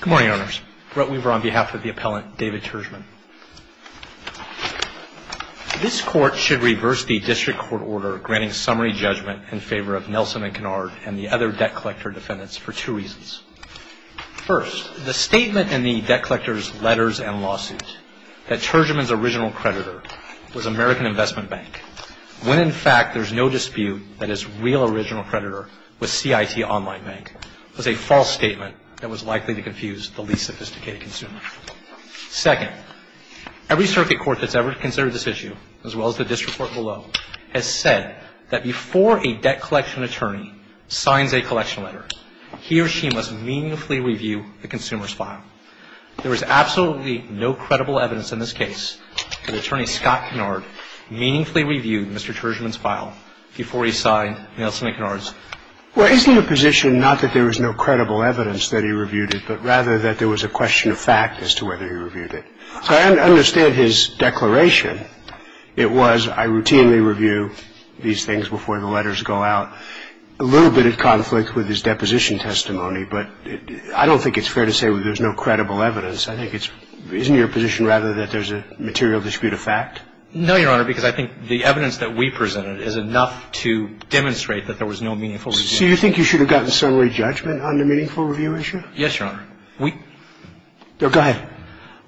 Good morning, Owners. Brett Weaver on behalf of the Appellant, David Tourgeman. This Court should reverse the District Court order granting summary judgment in favor of Nelson and Canard and the other debt collector defendants for two reasons. First, the statement in the debt collector's letters and lawsuit that Tourgeman's original creditor was American Investment Bank, when in fact there is no dispute that his real original creditor was CIT Online Bank, was a false statement that was likely to confuse the least sophisticated consumer. Second, every circuit court that's ever considered this issue, as well as the District Court below, has said that before a debt collection attorney signs a collection letter, he or she must meaningfully review the consumer's file. There is absolutely no credible evidence in this case that Attorney Scott Canard meaningfully reviewed Mr. Tourgeman's file before he signed Nelson and Canard's. Well, isn't it a position not that there was no credible evidence that he reviewed it, but rather that there was a question of fact as to whether he reviewed it? So I understand his declaration. It was, I routinely review these things before the letters go out. A little bit of conflict with his deposition testimony, but I don't think it's fair to say there's no credible evidence. I think it's – isn't your position rather that there's a material dispute of fact? No, Your Honor, because I think the evidence that we presented is enough to demonstrate that there was no meaningful review. So you think you should have gotten summary judgment on the meaningful review issue? Yes, Your Honor. We – Go ahead.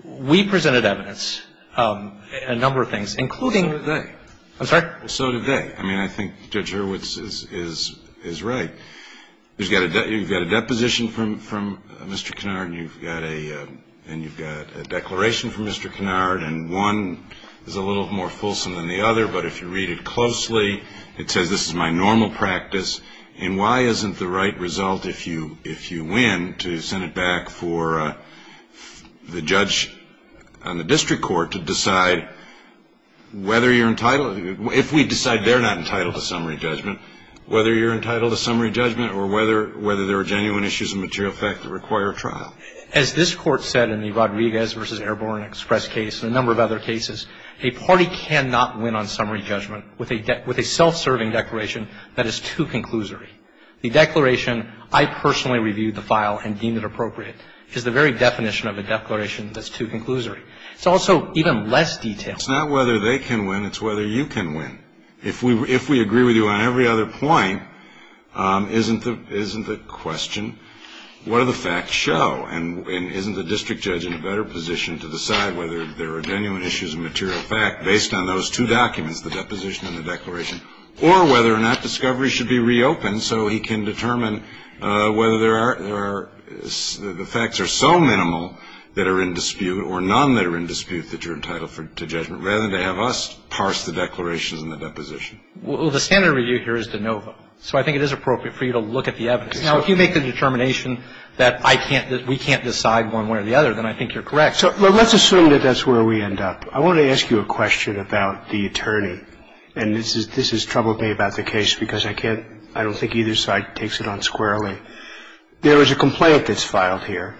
We presented evidence, a number of things, including – So did they. I'm sorry? So did they. I mean, I think Judge Hurwitz is right. You've got a deposition from Mr. Canard, and you've got a declaration from Mr. Canard, and one is a little more fulsome than the other, but if you read it closely, it says, this is my normal practice, and why isn't the right result, if you win, to send it back for the judge on the district court to decide whether you're entitled – if we decide they're not entitled to summary judgment, whether you're entitled to summary judgment or whether there are genuine issues of material fact that require a trial? As this Court said in the Rodriguez v. Airborne Express case and a number of other cases, a party cannot win on summary judgment with a self-serving declaration that is too conclusory. The declaration, I personally reviewed the file and deemed it appropriate, is the very definition of a declaration that's too conclusory. It's also even less detailed. It's not whether they can win. It's whether you can win. If we agree with you on every other point, isn't the question, what do the facts show, and isn't the district judge in a better position to decide whether there are genuine issues of material fact based on those two documents, the deposition and the declaration, or whether or not discovery should be reopened so he can determine whether the facts are so minimal that are in dispute or none that are in dispute that you're entitled to judgment, rather than to have us parse the declarations and the deposition? Well, the standard review here is de novo. So I think it is appropriate for you to look at the evidence. Now, if you make the determination that I can't, that we can't decide one way or the other, then I think you're correct. So let's assume that that's where we end up. I want to ask you a question about the attorney. And this has troubled me about the case because I can't, I don't think either side takes it on squarely. There is a complaint that's filed here.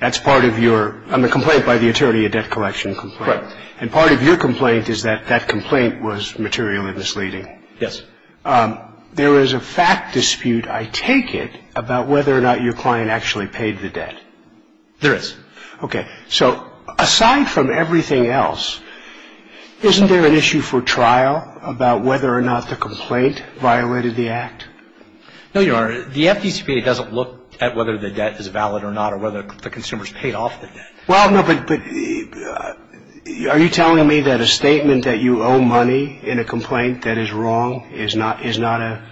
That's part of your, on the complaint by the attorney, a debt collection complaint. Right. And part of your complaint is that that complaint was materially misleading. Yes. There is a fact dispute, I take it, about whether or not your client actually paid the debt. There is. Okay. So aside from everything else, isn't there an issue for trial about whether or not the complaint violated the Act? No, Your Honor. The FDCPA doesn't look at whether the debt is valid or not or whether the consumers paid off the debt. Well, no, but are you telling me that a statement that you owe money in a complaint that is wrong is not an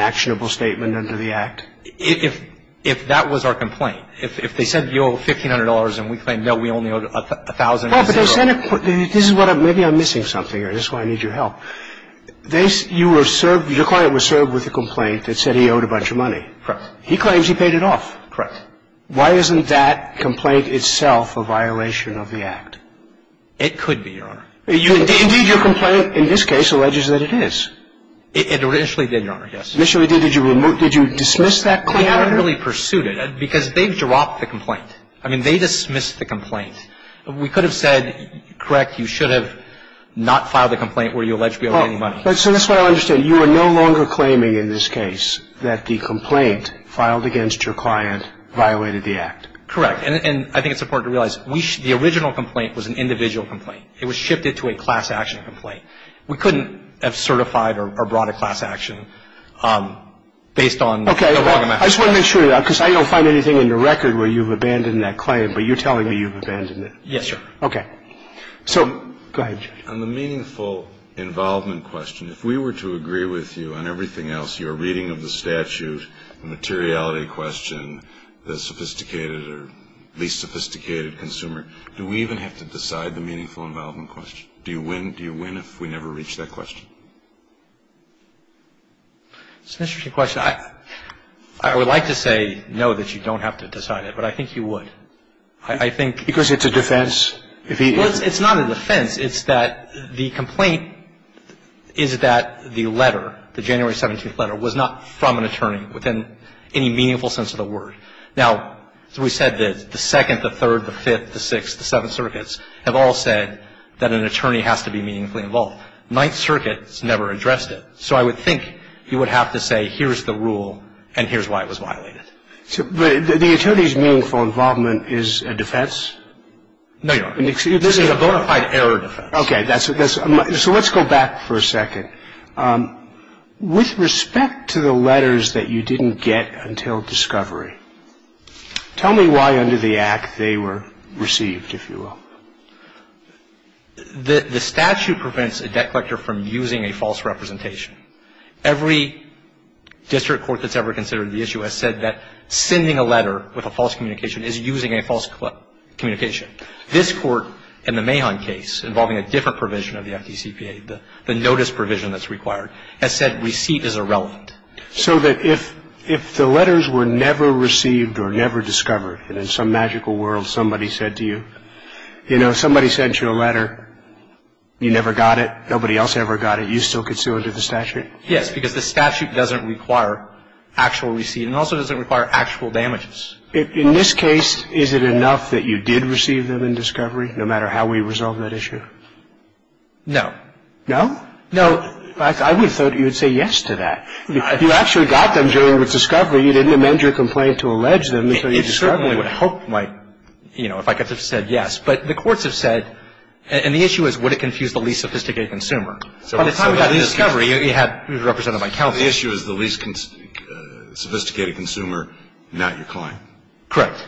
actionable statement under the Act? If that was our complaint, if they said you owe $1,500 and we claim, no, we only owe $1,000. Well, but they said, this is what, maybe I'm missing something or this is why I need your help. You were served, your client was served with a complaint that said he owed a bunch of money. Correct. He claims he paid it off. Correct. Why isn't that complaint itself a violation of the Act? It could be, Your Honor. Indeed, your complaint in this case alleges that it is. It initially did, Your Honor, yes. Initially did, did you remove, did you dismiss that claim? We haven't really pursued it because they've dropped the complaint. I mean, they dismissed the complaint. We could have said, correct, you should have not filed the complaint where you alleged to be owing money. So that's what I understand. You are no longer claiming in this case that the complaint filed against your client violated the Act. Correct. And I think it's important to realize the original complaint was an individual complaint. It was shifted to a class action complaint. We couldn't have certified or brought a class action based on the log amount. Okay. I just want to make sure of that because I don't find anything in the record where you've abandoned that claim, but you're telling me you've abandoned it. Yes, sir. Okay. So go ahead, Judge. On the meaningful involvement question, if we were to agree with you on everything else, your reading of the statute, the materiality question, the sophisticated or least sophisticated consumer, do we even have to decide the meaningful involvement question? Do you win if we never reach that question? It's an interesting question. I would like to say no, that you don't have to decide it, but I think you would. I think — Because it's a defense. Well, it's not a defense. It's that the complaint is that the letter, the January 17th letter, was not from an attorney within any meaningful sense of the word. Now, we said that the Second, the Third, the Fifth, the Sixth, the Seventh Circuits have all said that an attorney has to be meaningfully involved. Ninth Circuit has never addressed it. So I would think you would have to say here's the rule and here's why it was violated. But the attorney's meaningful involvement is a defense? No, Your Honor. This is a bona fide error defense. Okay. So let's go back for a second. With respect to the letters that you didn't get until discovery, tell me why under the Act they were received, if you will. The statute prevents a debt collector from using a false representation. So the fact that a debt collector with a false communication is using a false communication. This Court in the Mahon case involving a different provision of the FDCPA, the notice provision that's required, has said receipt is irrelevant. So that if the letters were never received or never discovered, and in some magical world somebody said to you, you know, In this case, is it enough that you did receive them in discovery, no matter how we resolve that issue? No. No? No. In fact, I would have thought you would say yes to that. If you actually got them during discovery, you didn't amend your complaint to allege them until you discovered them. You certainly would have hoped my, you know, if I could have said yes. But the courts have said, and the issue is would it confuse the least sophisticated consumer. So when it comes to discovery, you had it represented by Kelvin. The issue is the least sophisticated consumer, not your client. Correct.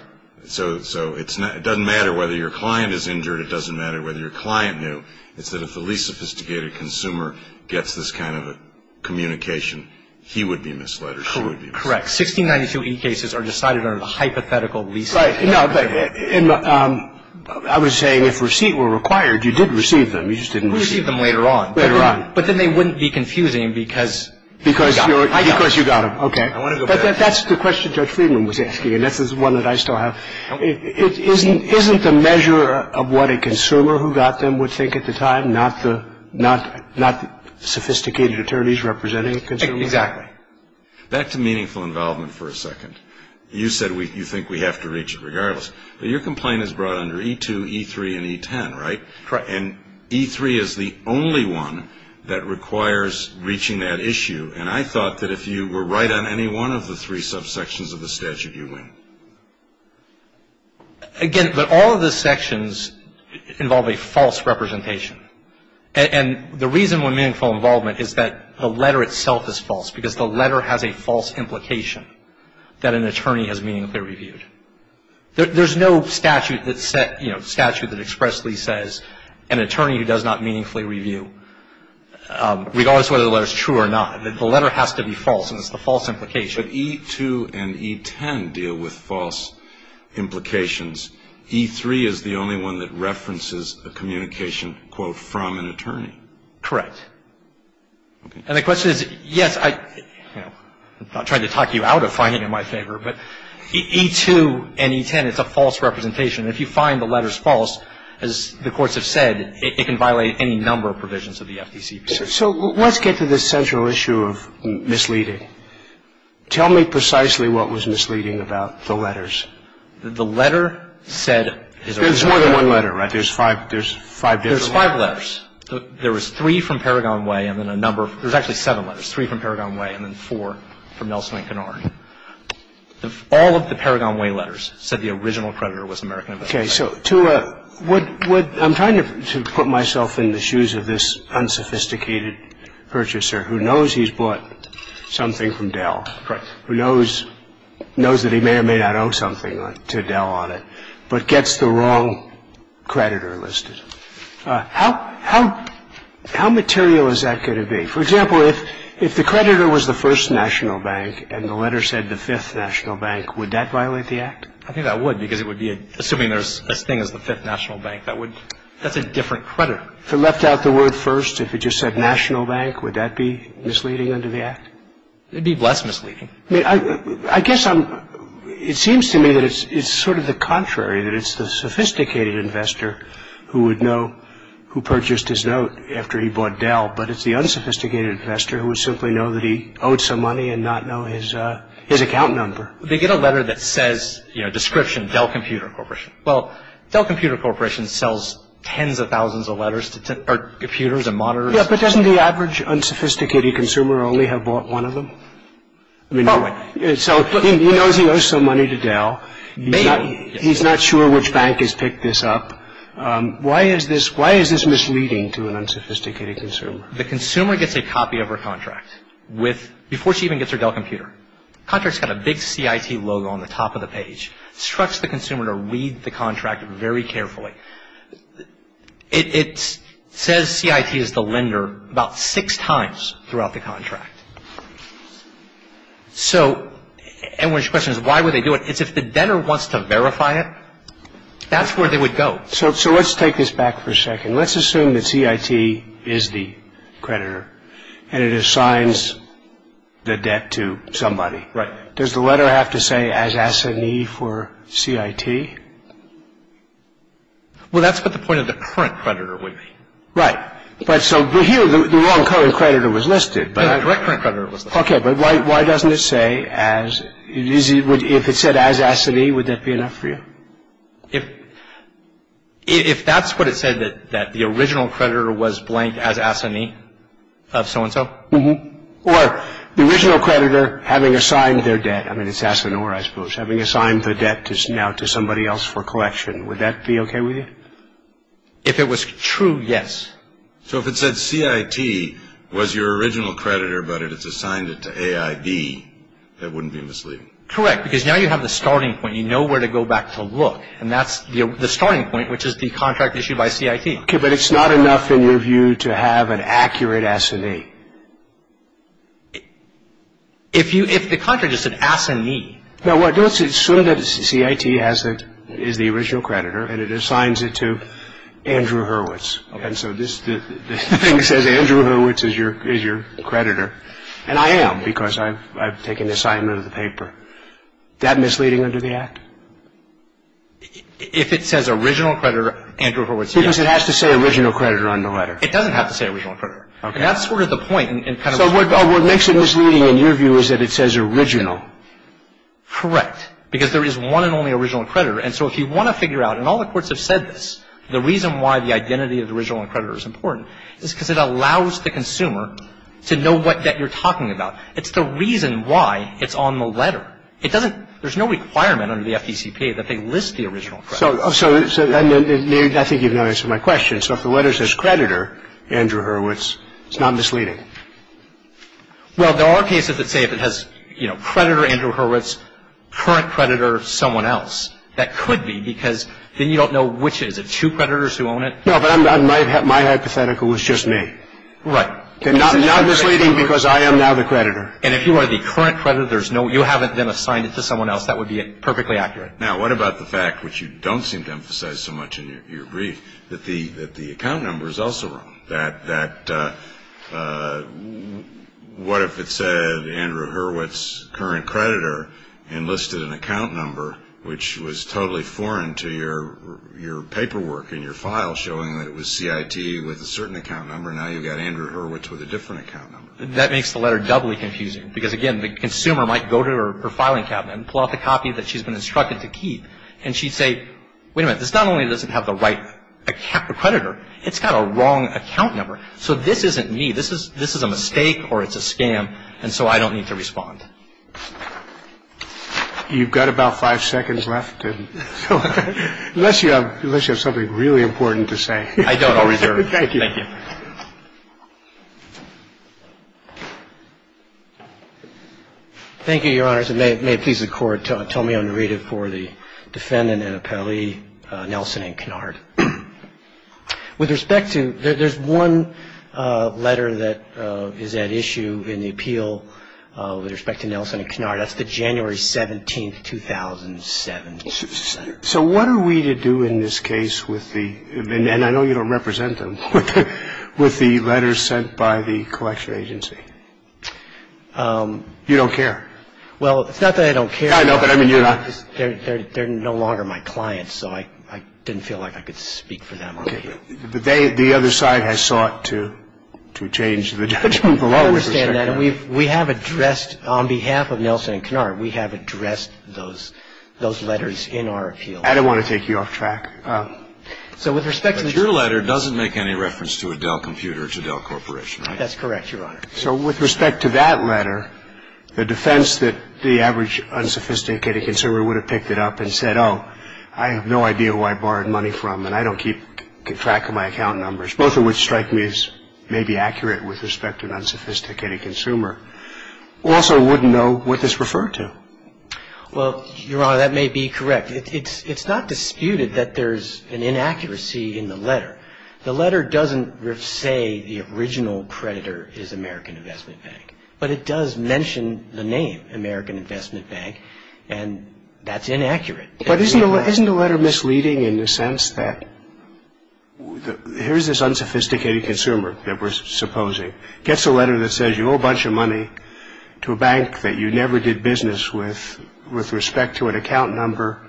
So it doesn't matter whether your client is injured. It doesn't matter whether your client knew. It's that if the least sophisticated consumer gets this kind of a communication, he would be misled or she would be misled. Correct. 1692e cases are decided under the hypothetical lease. Right. No, but I was saying if receipt were required, you did receive them. You just didn't receive them. We received them later on. Later on. But then they wouldn't be confusing because you got them. Because you got them. Okay. But that's the question Judge Friedman was asking, and this is one that I still have. Isn't the measure of what a consumer who got them would think at the time, not the sophisticated attorneys representing a consumer? Exactly. Back to meaningful involvement for a second. You said you think we have to reach it regardless. But your complaint is brought under E2, E3, and E10, right? Correct. And E3 is the only one that requires reaching that issue, and I thought that if you were right on any one of the three subsections of the statute, you win. Again, but all of the sections involve a false representation. And the reason for meaningful involvement is that the letter itself is false because the letter has a false implication that an attorney has meaningfully reviewed. There's no statute that expressly says an attorney who does not meaningfully review, regardless of whether the letter is true or not. The letter has to be false, and it's the false implication. But E2 and E10 deal with false implications. E3 is the only one that references a communication, quote, from an attorney. Correct. And the question is, yes, I'm not trying to talk you out of finding it in my favor, but E2 and E10, it's a false representation. And if you find the letters false, as the courts have said, it can violate any number of provisions of the FDCP. So let's get to the central issue of misleading. Tell me precisely what was misleading about the letters. The letter said is a wrong letter. There's more than one letter, right? There's five different letters. There's five letters. There was three from Paragon Way and then a number of – there's actually seven letters, but there's three from Paragon Way and then four from Nelson and Canard. All of the Paragon Way letters said the original creditor was American Investments. Okay. So to a – I'm trying to put myself in the shoes of this unsophisticated purchaser who knows he's bought something from Dell, who knows that he may or may not owe something to Dell on it, but gets the wrong creditor listed. How material is that going to be? For example, if the creditor was the First National Bank and the letter said the Fifth National Bank, would that violate the Act? I think that would because it would be – assuming there's this thing as the Fifth National Bank, that would – that's a different creditor. If it left out the word First, if it just said National Bank, would that be misleading under the Act? It would be less misleading. I mean, I guess I'm – it seems to me that it's sort of the contrary, that it's the sophisticated investor who would know who purchased his note after he bought Dell, but it's the unsophisticated investor who would simply know that he owed some money and not know his account number. They get a letter that says, you know, description, Dell Computer Corporation. Well, Dell Computer Corporation sells tens of thousands of letters to computers and monitors. Yeah, but doesn't the average unsophisticated consumer only have bought one of them? I mean, so he knows he owes some money to Dell. Maybe. He's not sure which bank has picked this up. Why is this misleading to an unsophisticated consumer? The consumer gets a copy of her contract with – before she even gets her Dell computer. The contract's got a big CIT logo on the top of the page. It instructs the consumer to read the contract very carefully. It says CIT is the lender about six times throughout the contract. So everyone's question is, why would they do it? It's if the debtor wants to verify it, that's where they would go. So let's take this back for a second. Let's assume that CIT is the creditor and it assigns the debt to somebody. Right. Does the letter have to say as S&E for CIT? Well, that's what the point of the current creditor would be. Right. But so here the wrong creditor was listed. Yeah, the correct current creditor was listed. Okay, but why doesn't it say as – if it said as S&E, would that be enough for you? If that's what it said, that the original creditor was blank as S&E of so-and-so? Mm-hmm. Or the original creditor having assigned their debt – I mean, it's S&R, I suppose – having assigned the debt now to somebody else for collection, would that be okay with you? If it was true, yes. So if it said CIT was your original creditor but it's assigned it to AIB, that wouldn't be misleading? Correct, because now you have the starting point. You know where to go back to look, and that's the starting point, which is the contract issued by CIT. Okay, but it's not enough, in your view, to have an accurate S&E. If the contract just said S&E – No, well, let's assume that CIT is the original creditor and it assigns it to Andrew Hurwitz. And so this thing says Andrew Hurwitz is your creditor, and I am because I've taken assignment of the paper. Is that misleading under the Act? If it says original creditor, Andrew Hurwitz, yes. Because it has to say original creditor on the letter. It doesn't have to say original creditor. Okay. And that's sort of the point. So what makes it misleading in your view is that it says original. Correct, because there is one and only original creditor. And so if you want to figure out, and all the courts have said this, the reason why the identity of the original and creditor is important is because it allows the consumer to know what debt you're talking about. It's the reason why it's on the letter. It doesn't – there's no requirement under the FDCPA that they list the original creditor. So I think you've now answered my question. So if the letter says creditor, Andrew Hurwitz, it's not misleading? Well, there are cases that say if it has, you know, creditor, Andrew Hurwitz, current creditor, someone else. That could be because then you don't know which is it, two creditors who own it? No, but my hypothetical was just me. Right. Not misleading because I am now the creditor. And if you are the current creditor, you haven't been assigned it to someone else, that would be perfectly accurate. Now, what about the fact, which you don't seem to emphasize so much in your brief, that the account number is also wrong? That what if it said Andrew Hurwitz, current creditor, enlisted an account number, which was totally foreign to your paperwork in your file showing that it was CIT with a certain account number. Now you've got Andrew Hurwitz with a different account number. That makes the letter doubly confusing because, again, the consumer might go to her filing cabinet and pull out the copy that she's been instructed to keep. And she'd say, wait a minute, this not only doesn't have the right creditor, it's got a wrong account number. So this isn't me. This is a mistake or it's a scam. And so I don't need to respond. You've got about five seconds left. Unless you have something really important to say. I don't. I'll reserve. Thank you. Thank you, Your Honors. Mr. President, may it please the Court, tell me I'm to read it for the defendant and appellee, Nelson and Kennard. With respect to, there's one letter that is at issue in the appeal with respect to Nelson and Kennard. That's the January 17th, 2007. So what are we to do in this case with the, and I know you don't represent them, with the letters sent by the collection agency? You don't care? Well, it's not that I don't care. I know, but I mean, you're not. They're no longer my clients, so I didn't feel like I could speak for them. Okay. The other side has sought to change the judgment below. I understand that. And we have addressed, on behalf of Nelson and Kennard, we have addressed those letters in our appeal. I didn't want to take you off track. So with respect to this. But your letter doesn't make any reference to a Dell computer, to Dell Corporation, right? That's correct, Your Honor. So with respect to that letter, the defense that the average unsophisticated consumer would have picked it up and said, oh, I have no idea who I borrowed money from, and I don't keep track of my account numbers, both of which strike me as maybe accurate with respect to an unsophisticated consumer, also wouldn't know what this referred to. Well, Your Honor, that may be correct. It's not disputed that there's an inaccuracy in the letter. The letter doesn't say the original predator is American Investment Bank. But it does mention the name, American Investment Bank, and that's inaccurate. But isn't the letter misleading in the sense that here's this unsophisticated consumer that we're supposing, gets a letter that says you owe a bunch of money to a bank that you never did business with, with respect to an account number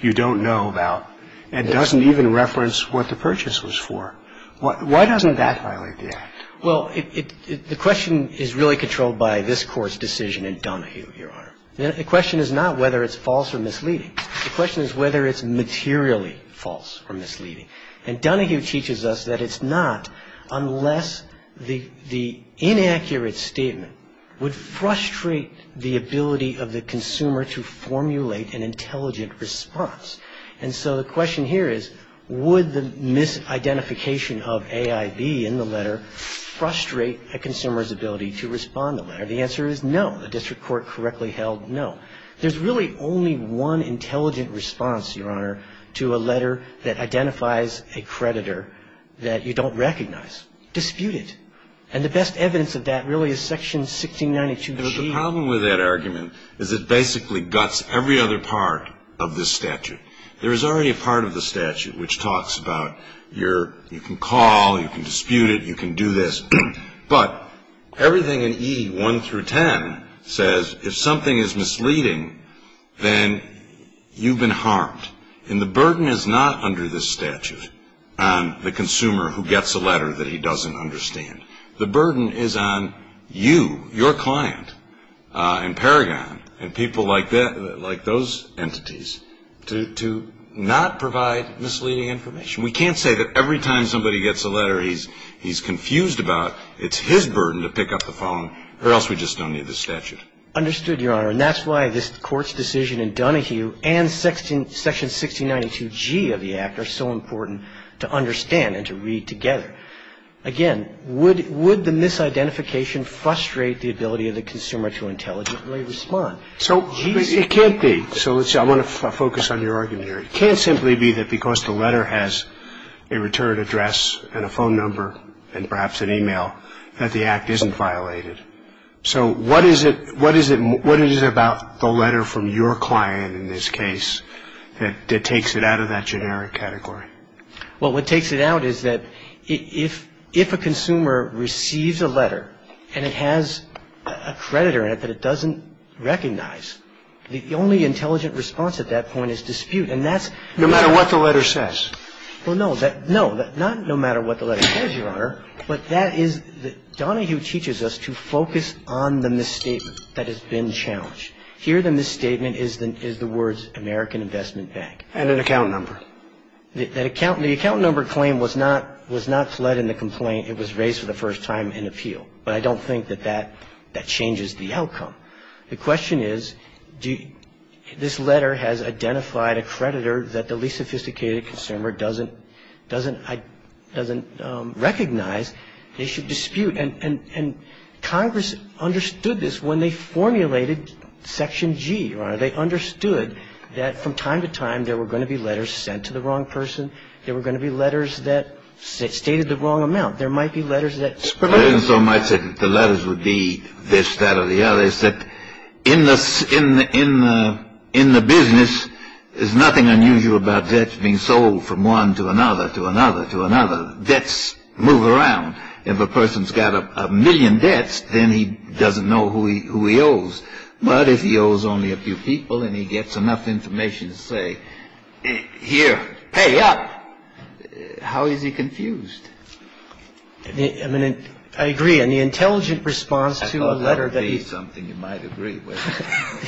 you don't know about, and doesn't even reference what the purchase was for? Why doesn't that violate the Act? Well, the question is really controlled by this Court's decision in Donahue, Your Honor. The question is not whether it's false or misleading. The question is whether it's materially false or misleading. And Donahue teaches us that it's not unless the inaccurate statement would frustrate the ability of the consumer to formulate an intelligent response. And so the question here is would the misidentification of AIB in the letter frustrate a consumer's ability to respond to the letter? The answer is no. The district court correctly held no. There's really only one intelligent response, Your Honor, to a letter that identifies a creditor that you don't recognize. Dispute it. And the best evidence of that really is Section 1692G. The problem with that argument is it basically guts every other part of this statute. There is already a part of the statute which talks about you can call, you can dispute it, you can do this. But everything in E1 through 10 says if something is misleading, then you've been harmed. And the burden is not under this statute on the consumer who gets a letter that he doesn't understand. The burden is on you, your client in Paragon and people like those entities to not provide misleading information. We can't say that every time somebody gets a letter he's confused about, it's his burden to pick up the phone or else we just don't need this statute. Understood, Your Honor. And that's why this Court's decision in Donahue and Section 1692G of the Act are so important to understand and to read together. Again, would the misidentification frustrate the ability of the consumer to intelligently respond? So it can't be. So I want to focus on your argument here. It can't simply be that because the letter has a return address and a phone number and perhaps an e-mail that the Act isn't violated. So what is it about the letter from your client in this case that takes it out of that generic category? Well, what takes it out is that if a consumer receives a letter and it has a creditor in it that it doesn't recognize, the only intelligent response at that point is dispute. And that's no matter what the letter says. Well, no. No, not no matter what the letter says, Your Honor. But that is that Donahue teaches us to focus on the misstatement that has been challenged. Here the misstatement is the words American Investment Bank. And an account number. The account number claim was not fled in the complaint. It was raised for the first time in appeal. But I don't think that that changes the outcome. The question is, this letter has identified a creditor that the least sophisticated consumer doesn't recognize. They should dispute. And Congress understood this when they formulated Section G, Your Honor. They understood that from time to time there were going to be letters sent to the wrong person. There were going to be letters that stated the wrong amount. There might be letters that spread out. There isn't so much that the letters would be this, that, or the other. It's that in the business, there's nothing unusual about debts being sold from one to another to another to another. Debts move around. If a person's got a million debts, then he doesn't know who he owes. But if he owes only a few people and he gets enough information to say, here, pay up, how is he confused? I mean, I agree. And the intelligent response to a letter that he – I thought that would be something you might agree with.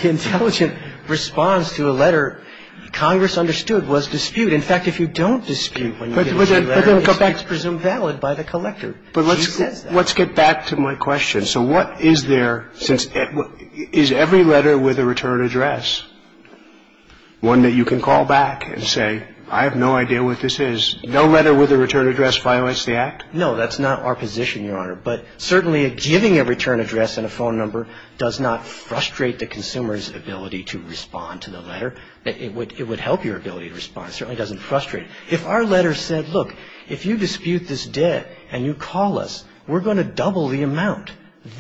The intelligent response to a letter Congress understood was dispute. In fact, if you don't dispute when you get a new letter, it's presumed valid by the collector. But let's get back to my question. So what is there since – is every letter with a return address one that you can call back and say, I have no idea what this is? No letter with a return address violates the Act? No, that's not our position, Your Honor. But certainly giving a return address and a phone number does not frustrate the consumer's ability to respond to the letter. It would help your ability to respond. It certainly doesn't frustrate it. If our letter said, look, if you dispute this debt and you call us, we're going to double the amount,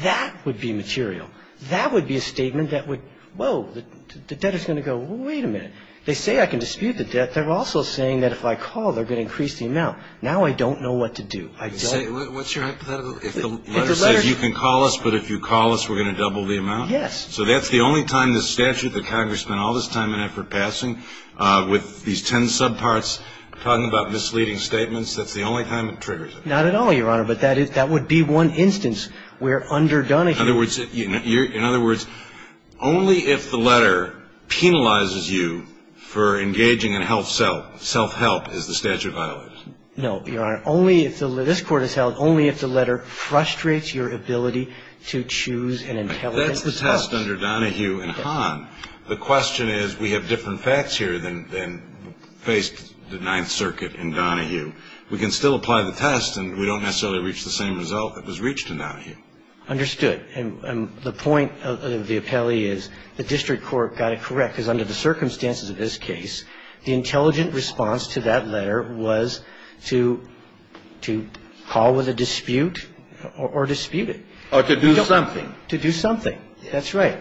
that would be material. That would be a statement that would – whoa, the debtor is going to go, wait a minute. They say I can dispute the debt. They're also saying that if I call, they're going to increase the amount. Now I don't know what to do. I don't – What's your hypothetical? If the letter says you can call us, but if you call us, we're going to double the amount? Yes. So that's the only time the statute that Congress spent all this time and effort passing with these ten subparts talking about misleading statements, that's the only time it triggers it? Not at all, Your Honor. But that would be one instance where underdone if you – In other words, only if the letter penalizes you for engaging in self-help is the statute violated? No, Your Honor. Only if the – this Court has held only if the letter frustrates your ability to choose an intelligent – Well, that's the test under Donahue and Hahn. The question is we have different facts here than faced the Ninth Circuit in Donahue. We can still apply the test, and we don't necessarily reach the same result that was reached in Donahue. Understood. And the point of the appellee is the district court got it correct because under the circumstances of this case, the intelligent response to that letter was to call with a dispute or dispute it. Or to do something. To do something. That's right.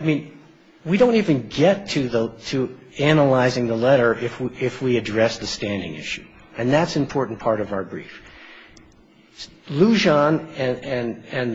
I mean, we don't even get to analyzing the letter if we address the standing issue. And that's an important part of our brief. Lujan and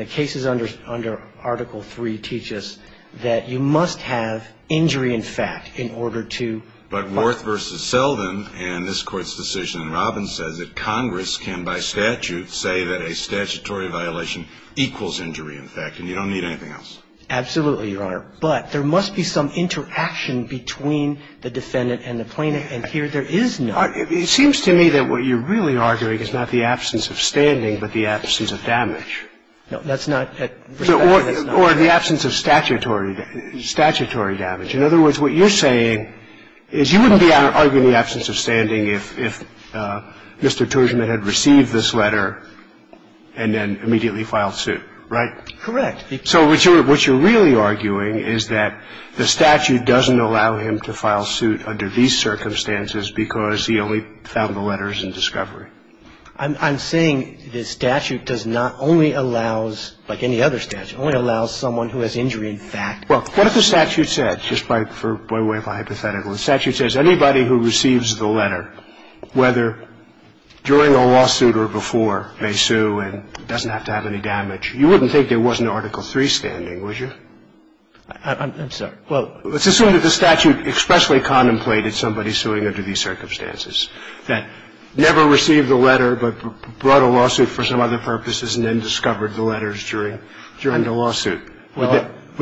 the cases under Article III teach us that you must have injury in fact in order to – But Worth v. Selden and this Court's decision in Robbins says that Congress can, by statute, say that a statutory violation equals injury in fact, and you don't need anything else. Absolutely, Your Honor. But there must be some interaction between the defendant and the plaintiff, and here there is none. It seems to me that what you're really arguing is not the absence of standing, but the absence of damage. No, that's not – Or the absence of statutory damage. In other words, what you're saying is you wouldn't be arguing the absence of standing if Mr. Gershman had received this letter and then immediately filed suit, right? Correct. So what you're really arguing is that the statute doesn't allow him to file suit under these circumstances because he only found the letters in discovery. I'm saying the statute does not only allow, like any other statute, only allows someone who has injury in fact. Well, what if the statute said, just by way of hypothetical, the statute says anybody who receives the letter, whether during a lawsuit or before, may sue and doesn't have to have any damage. You wouldn't think there wasn't an Article III standing, would you? I'm sorry. Well, let's assume that the statute expressly contemplated somebody suing under these circumstances, that never received the letter but brought a lawsuit for some other purposes and then discovered the letters during the lawsuit. Would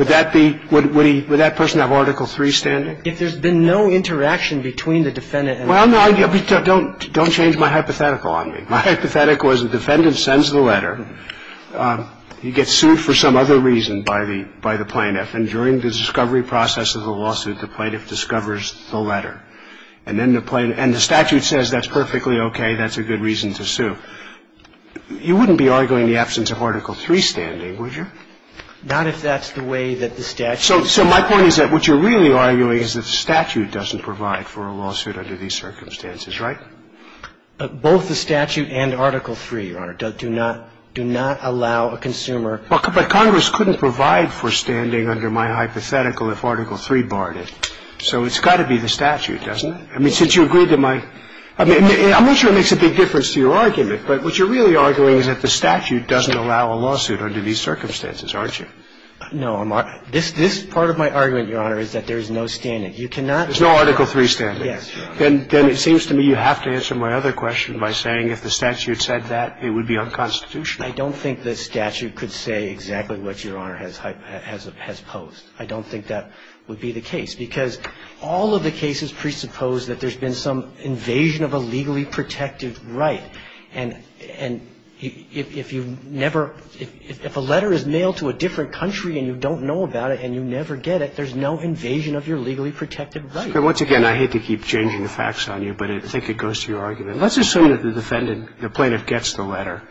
that be – would that person have Article III standing? If there's been no interaction between the defendant and the plaintiff. Well, no. Don't change my hypothetical on me. My hypothetical is the defendant sends the letter, he gets sued for some other reason by the plaintiff, and during the discovery process of the lawsuit, the plaintiff discovers the letter. And then the plaintiff – and the statute says that's perfectly okay, that's a good reason to sue. You wouldn't be arguing the absence of Article III standing, would you? Not if that's the way that the statute – So my point is that what you're really arguing is that the statute doesn't provide for a lawsuit under these circumstances, right? Both the statute and Article III, Your Honor, do not – do not allow a consumer – But Congress couldn't provide for standing under my hypothetical if Article III barred it. So it's got to be the statute, doesn't it? I mean, since you agreed to my – I mean, I'm not sure it makes a big difference to your argument, but what you're really arguing is that the statute doesn't allow a lawsuit under these circumstances, aren't you? No. This part of my argument, Your Honor, is that there is no standing. You cannot – There's no Article III standing. Yes, Your Honor. Then it seems to me you have to answer my other question by saying if the statute said that, it would be unconstitutional. I don't think the statute could say exactly what Your Honor has posed. I don't think that would be the case, because all of the cases presuppose that there's been some invasion of a legally protective right. And if you never – if a letter is mailed to a different country and you don't know about it and you never get it, there's no invasion of your legally protected right. Once again, I hate to keep changing the facts on you, but I think it goes to your argument. Let's assume that the defendant – the plaintiff gets the letter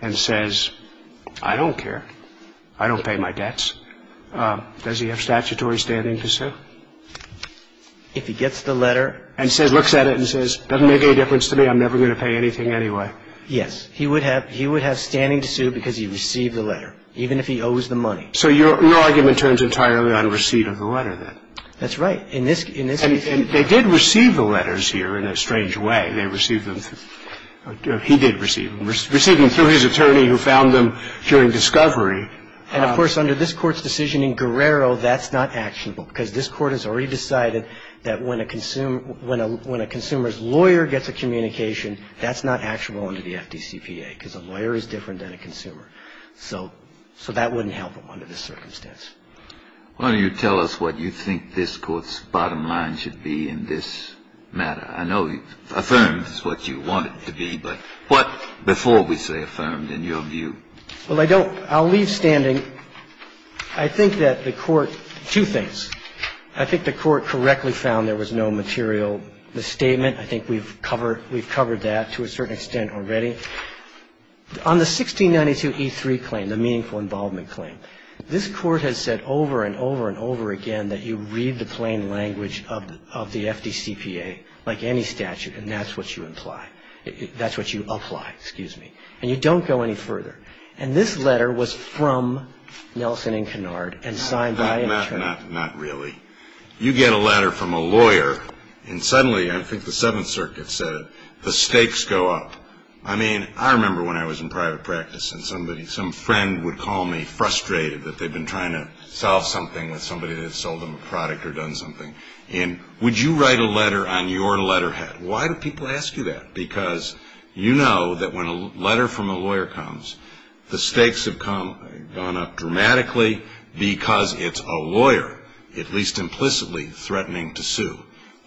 and says, I don't care. I don't pay my debts. Does he have statutory standing to sue? If he gets the letter and says – looks at it and says, doesn't make any difference to me. I'm never going to pay anything anyway. Yes. He would have – he would have standing to sue because he received the letter, even if he owes the money. So your argument turns entirely on receipt of the letter, then? That's right. In this case – And they did receive the letters here in a strange way. They received them – he did receive them. Receiving them through his attorney who found them during discovery. And, of course, under this Court's decision in Guerrero, that's not actionable, because this Court has already decided that when a consumer – when a consumer's communication, that's not actionable under the FDCPA, because a lawyer is different than a consumer. So that wouldn't help him under this circumstance. Why don't you tell us what you think this Court's bottom line should be in this matter? I know affirmed is what you want it to be, but what – before we say affirmed, in your view? Well, I don't – I'll leave standing. I think that the Court – two things. I think the Court correctly found there was no material misstatement. I think we've covered – we've covered that to a certain extent already. On the 1692E3 claim, the meaningful involvement claim, this Court has said over and over and over again that you read the plain language of the FDCPA like any statute, and that's what you imply – that's what you apply, excuse me. And you don't go any further. And this letter was from Nelson and Kennard and signed by an attorney. Not really. You get a letter from a lawyer, and suddenly, I think the Seventh Circuit said it, the stakes go up. I mean, I remember when I was in private practice and somebody – some friend would call me frustrated that they'd been trying to solve something with somebody that had sold them a product or done something. And would you write a letter on your letterhead? Why do people ask you that? Because you know that when a letter from a lawyer comes, the stakes have gone up dramatically because it's a lawyer, at least implicitly, threatening to sue.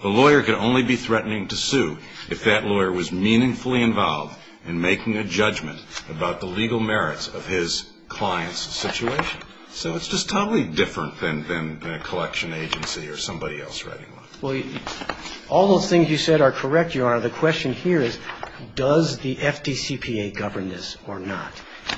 A lawyer can only be threatening to sue if that lawyer was meaningfully involved in making a judgment about the legal merits of his client's situation. So it's just totally different than a collection agency or somebody else writing one. Well, all those things you said are correct, Your Honor. The question here is, does the FDCPA govern this or not?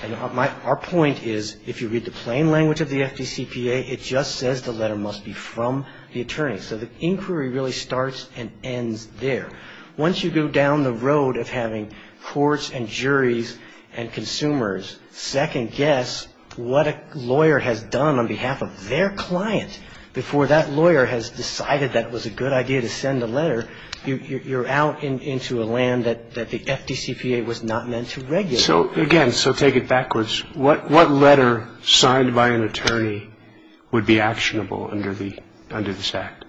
And our point is, if you read the plain language of the FDCPA, it just says the letter must be from the attorney. So the inquiry really starts and ends there. Once you go down the road of having courts and juries and consumers second-guess what a lawyer has done on behalf of their client before that lawyer has decided that it was a good idea to send a letter, you're out into a land that the FDCPA was not meant to regulate. So, again, so take it backwards. What letter signed by an attorney would be actionable under this Act?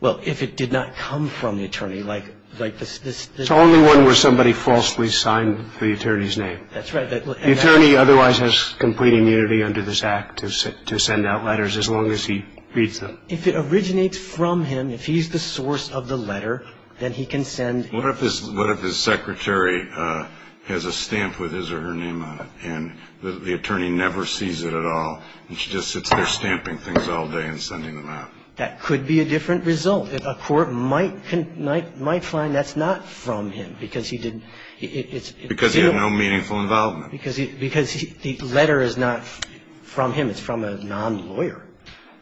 Well, if it did not come from the attorney, like this. It's the only one where somebody falsely signed the attorney's name. That's right. The attorney otherwise has complete immunity under this Act to send out letters as long as he reads them. If it originates from him, if he's the source of the letter, then he can send. What if his secretary has a stamp with his or her name on it and the attorney never sees it at all and she just sits there stamping things all day and sending them out? That could be a different result. A court might find that's not from him because he didn't. Because he had no meaningful involvement. Because the letter is not from him. It's from a non-lawyer.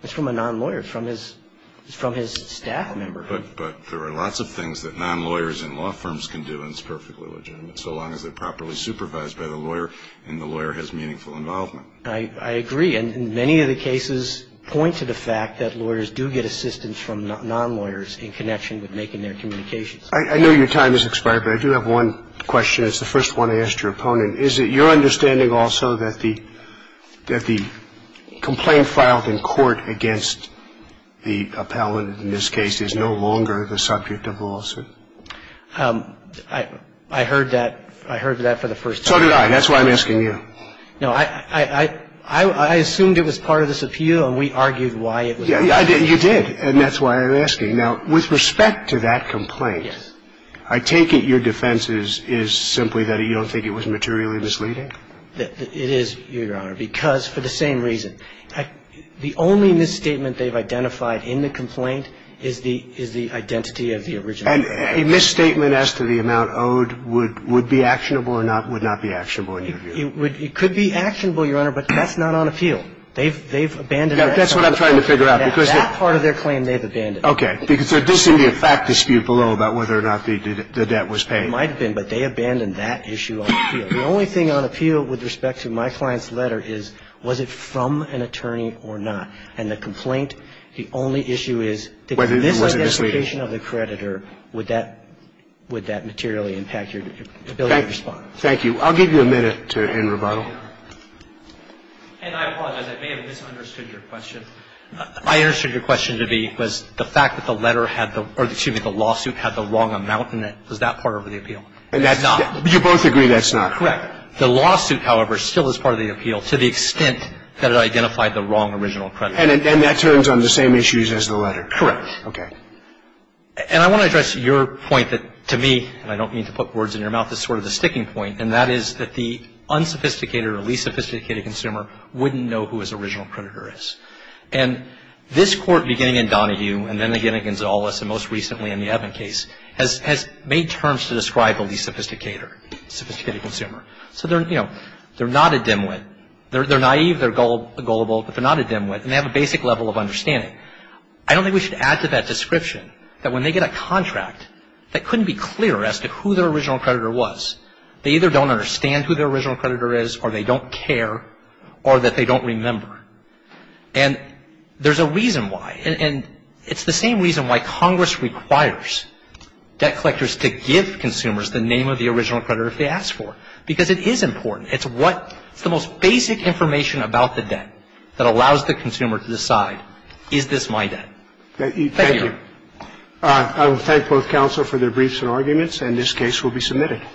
It's from a non-lawyer. It's from his staff member. But there are lots of things that non-lawyers and law firms can do, and it's perfectly legitimate, so long as they're properly supervised by the lawyer and the lawyer has meaningful involvement. I agree. And many of the cases point to the fact that lawyers do get assistance from non-lawyers in connection with making their communications. I know your time has expired, but I do have one question. It's the first one I asked your opponent. Is it your understanding also that the complaint filed in court against the appellant in this case is no longer the subject of lawsuit? I heard that for the first time. So did I. That's why I'm asking you. No, I assumed it was part of this appeal, and we argued why it was. You did, and that's why I'm asking. Now, with respect to that complaint, I take it your defense is simply that you don't think it was materially misleading? It is, Your Honor, because for the same reason. The only misstatement they've identified in the complaint is the identity of the original plaintiff. And a misstatement as to the amount owed would be actionable or would not be actionable in your view? It could be actionable, Your Honor, but that's not on appeal. They've abandoned that. That's what I'm trying to figure out. That part of their claim they've abandoned. Okay. Because there does seem to be a fact dispute below about whether or not the debt was paid. It might have been, but they abandoned that issue on appeal. The only thing on appeal with respect to my client's letter is, was it from an attorney or not? And the complaint, the only issue is, did this identification of the creditor, would that materially impact your ability to respond? Thank you. I'll give you a minute to end rebuttal. And I apologize. I may have misunderstood your question. I understood your question to be, was the fact that the letter had the or, excuse me, the lawsuit had the wrong amount in it, was that part of the appeal? And that's not. You both agree that's not. Correct. The lawsuit, however, still is part of the appeal to the extent that it identified the wrong original creditor. And that turns on the same issues as the letter. Correct. Okay. And I want to address your point that, to me, and I don't mean to put words in your mouth, is sort of the sticking point, and that is that the unsophisticated or least sophisticated consumer wouldn't know who his original creditor is. And this Court, beginning in Donahue and then again in Gonzales and most recently in the Evan case, has made terms to describe the least sophisticated consumer. So, you know, they're not a dimwit. They're naive, they're gullible, but they're not a dimwit, and they have a basic level of understanding. I don't think we should add to that description that when they get a contract, that couldn't be clear as to who their original creditor was. They either don't understand who their original creditor is or they don't care or that they don't remember. And there's a reason why. And it's the same reason why Congress requires debt collectors to give consumers the name of the original creditor if they ask for it, because it is important. It's what the most basic information about the debt that allows the consumer to decide, is this my debt? Thank you. Thank you. I will thank both counsel for their briefs and arguments, and this case will be submitted.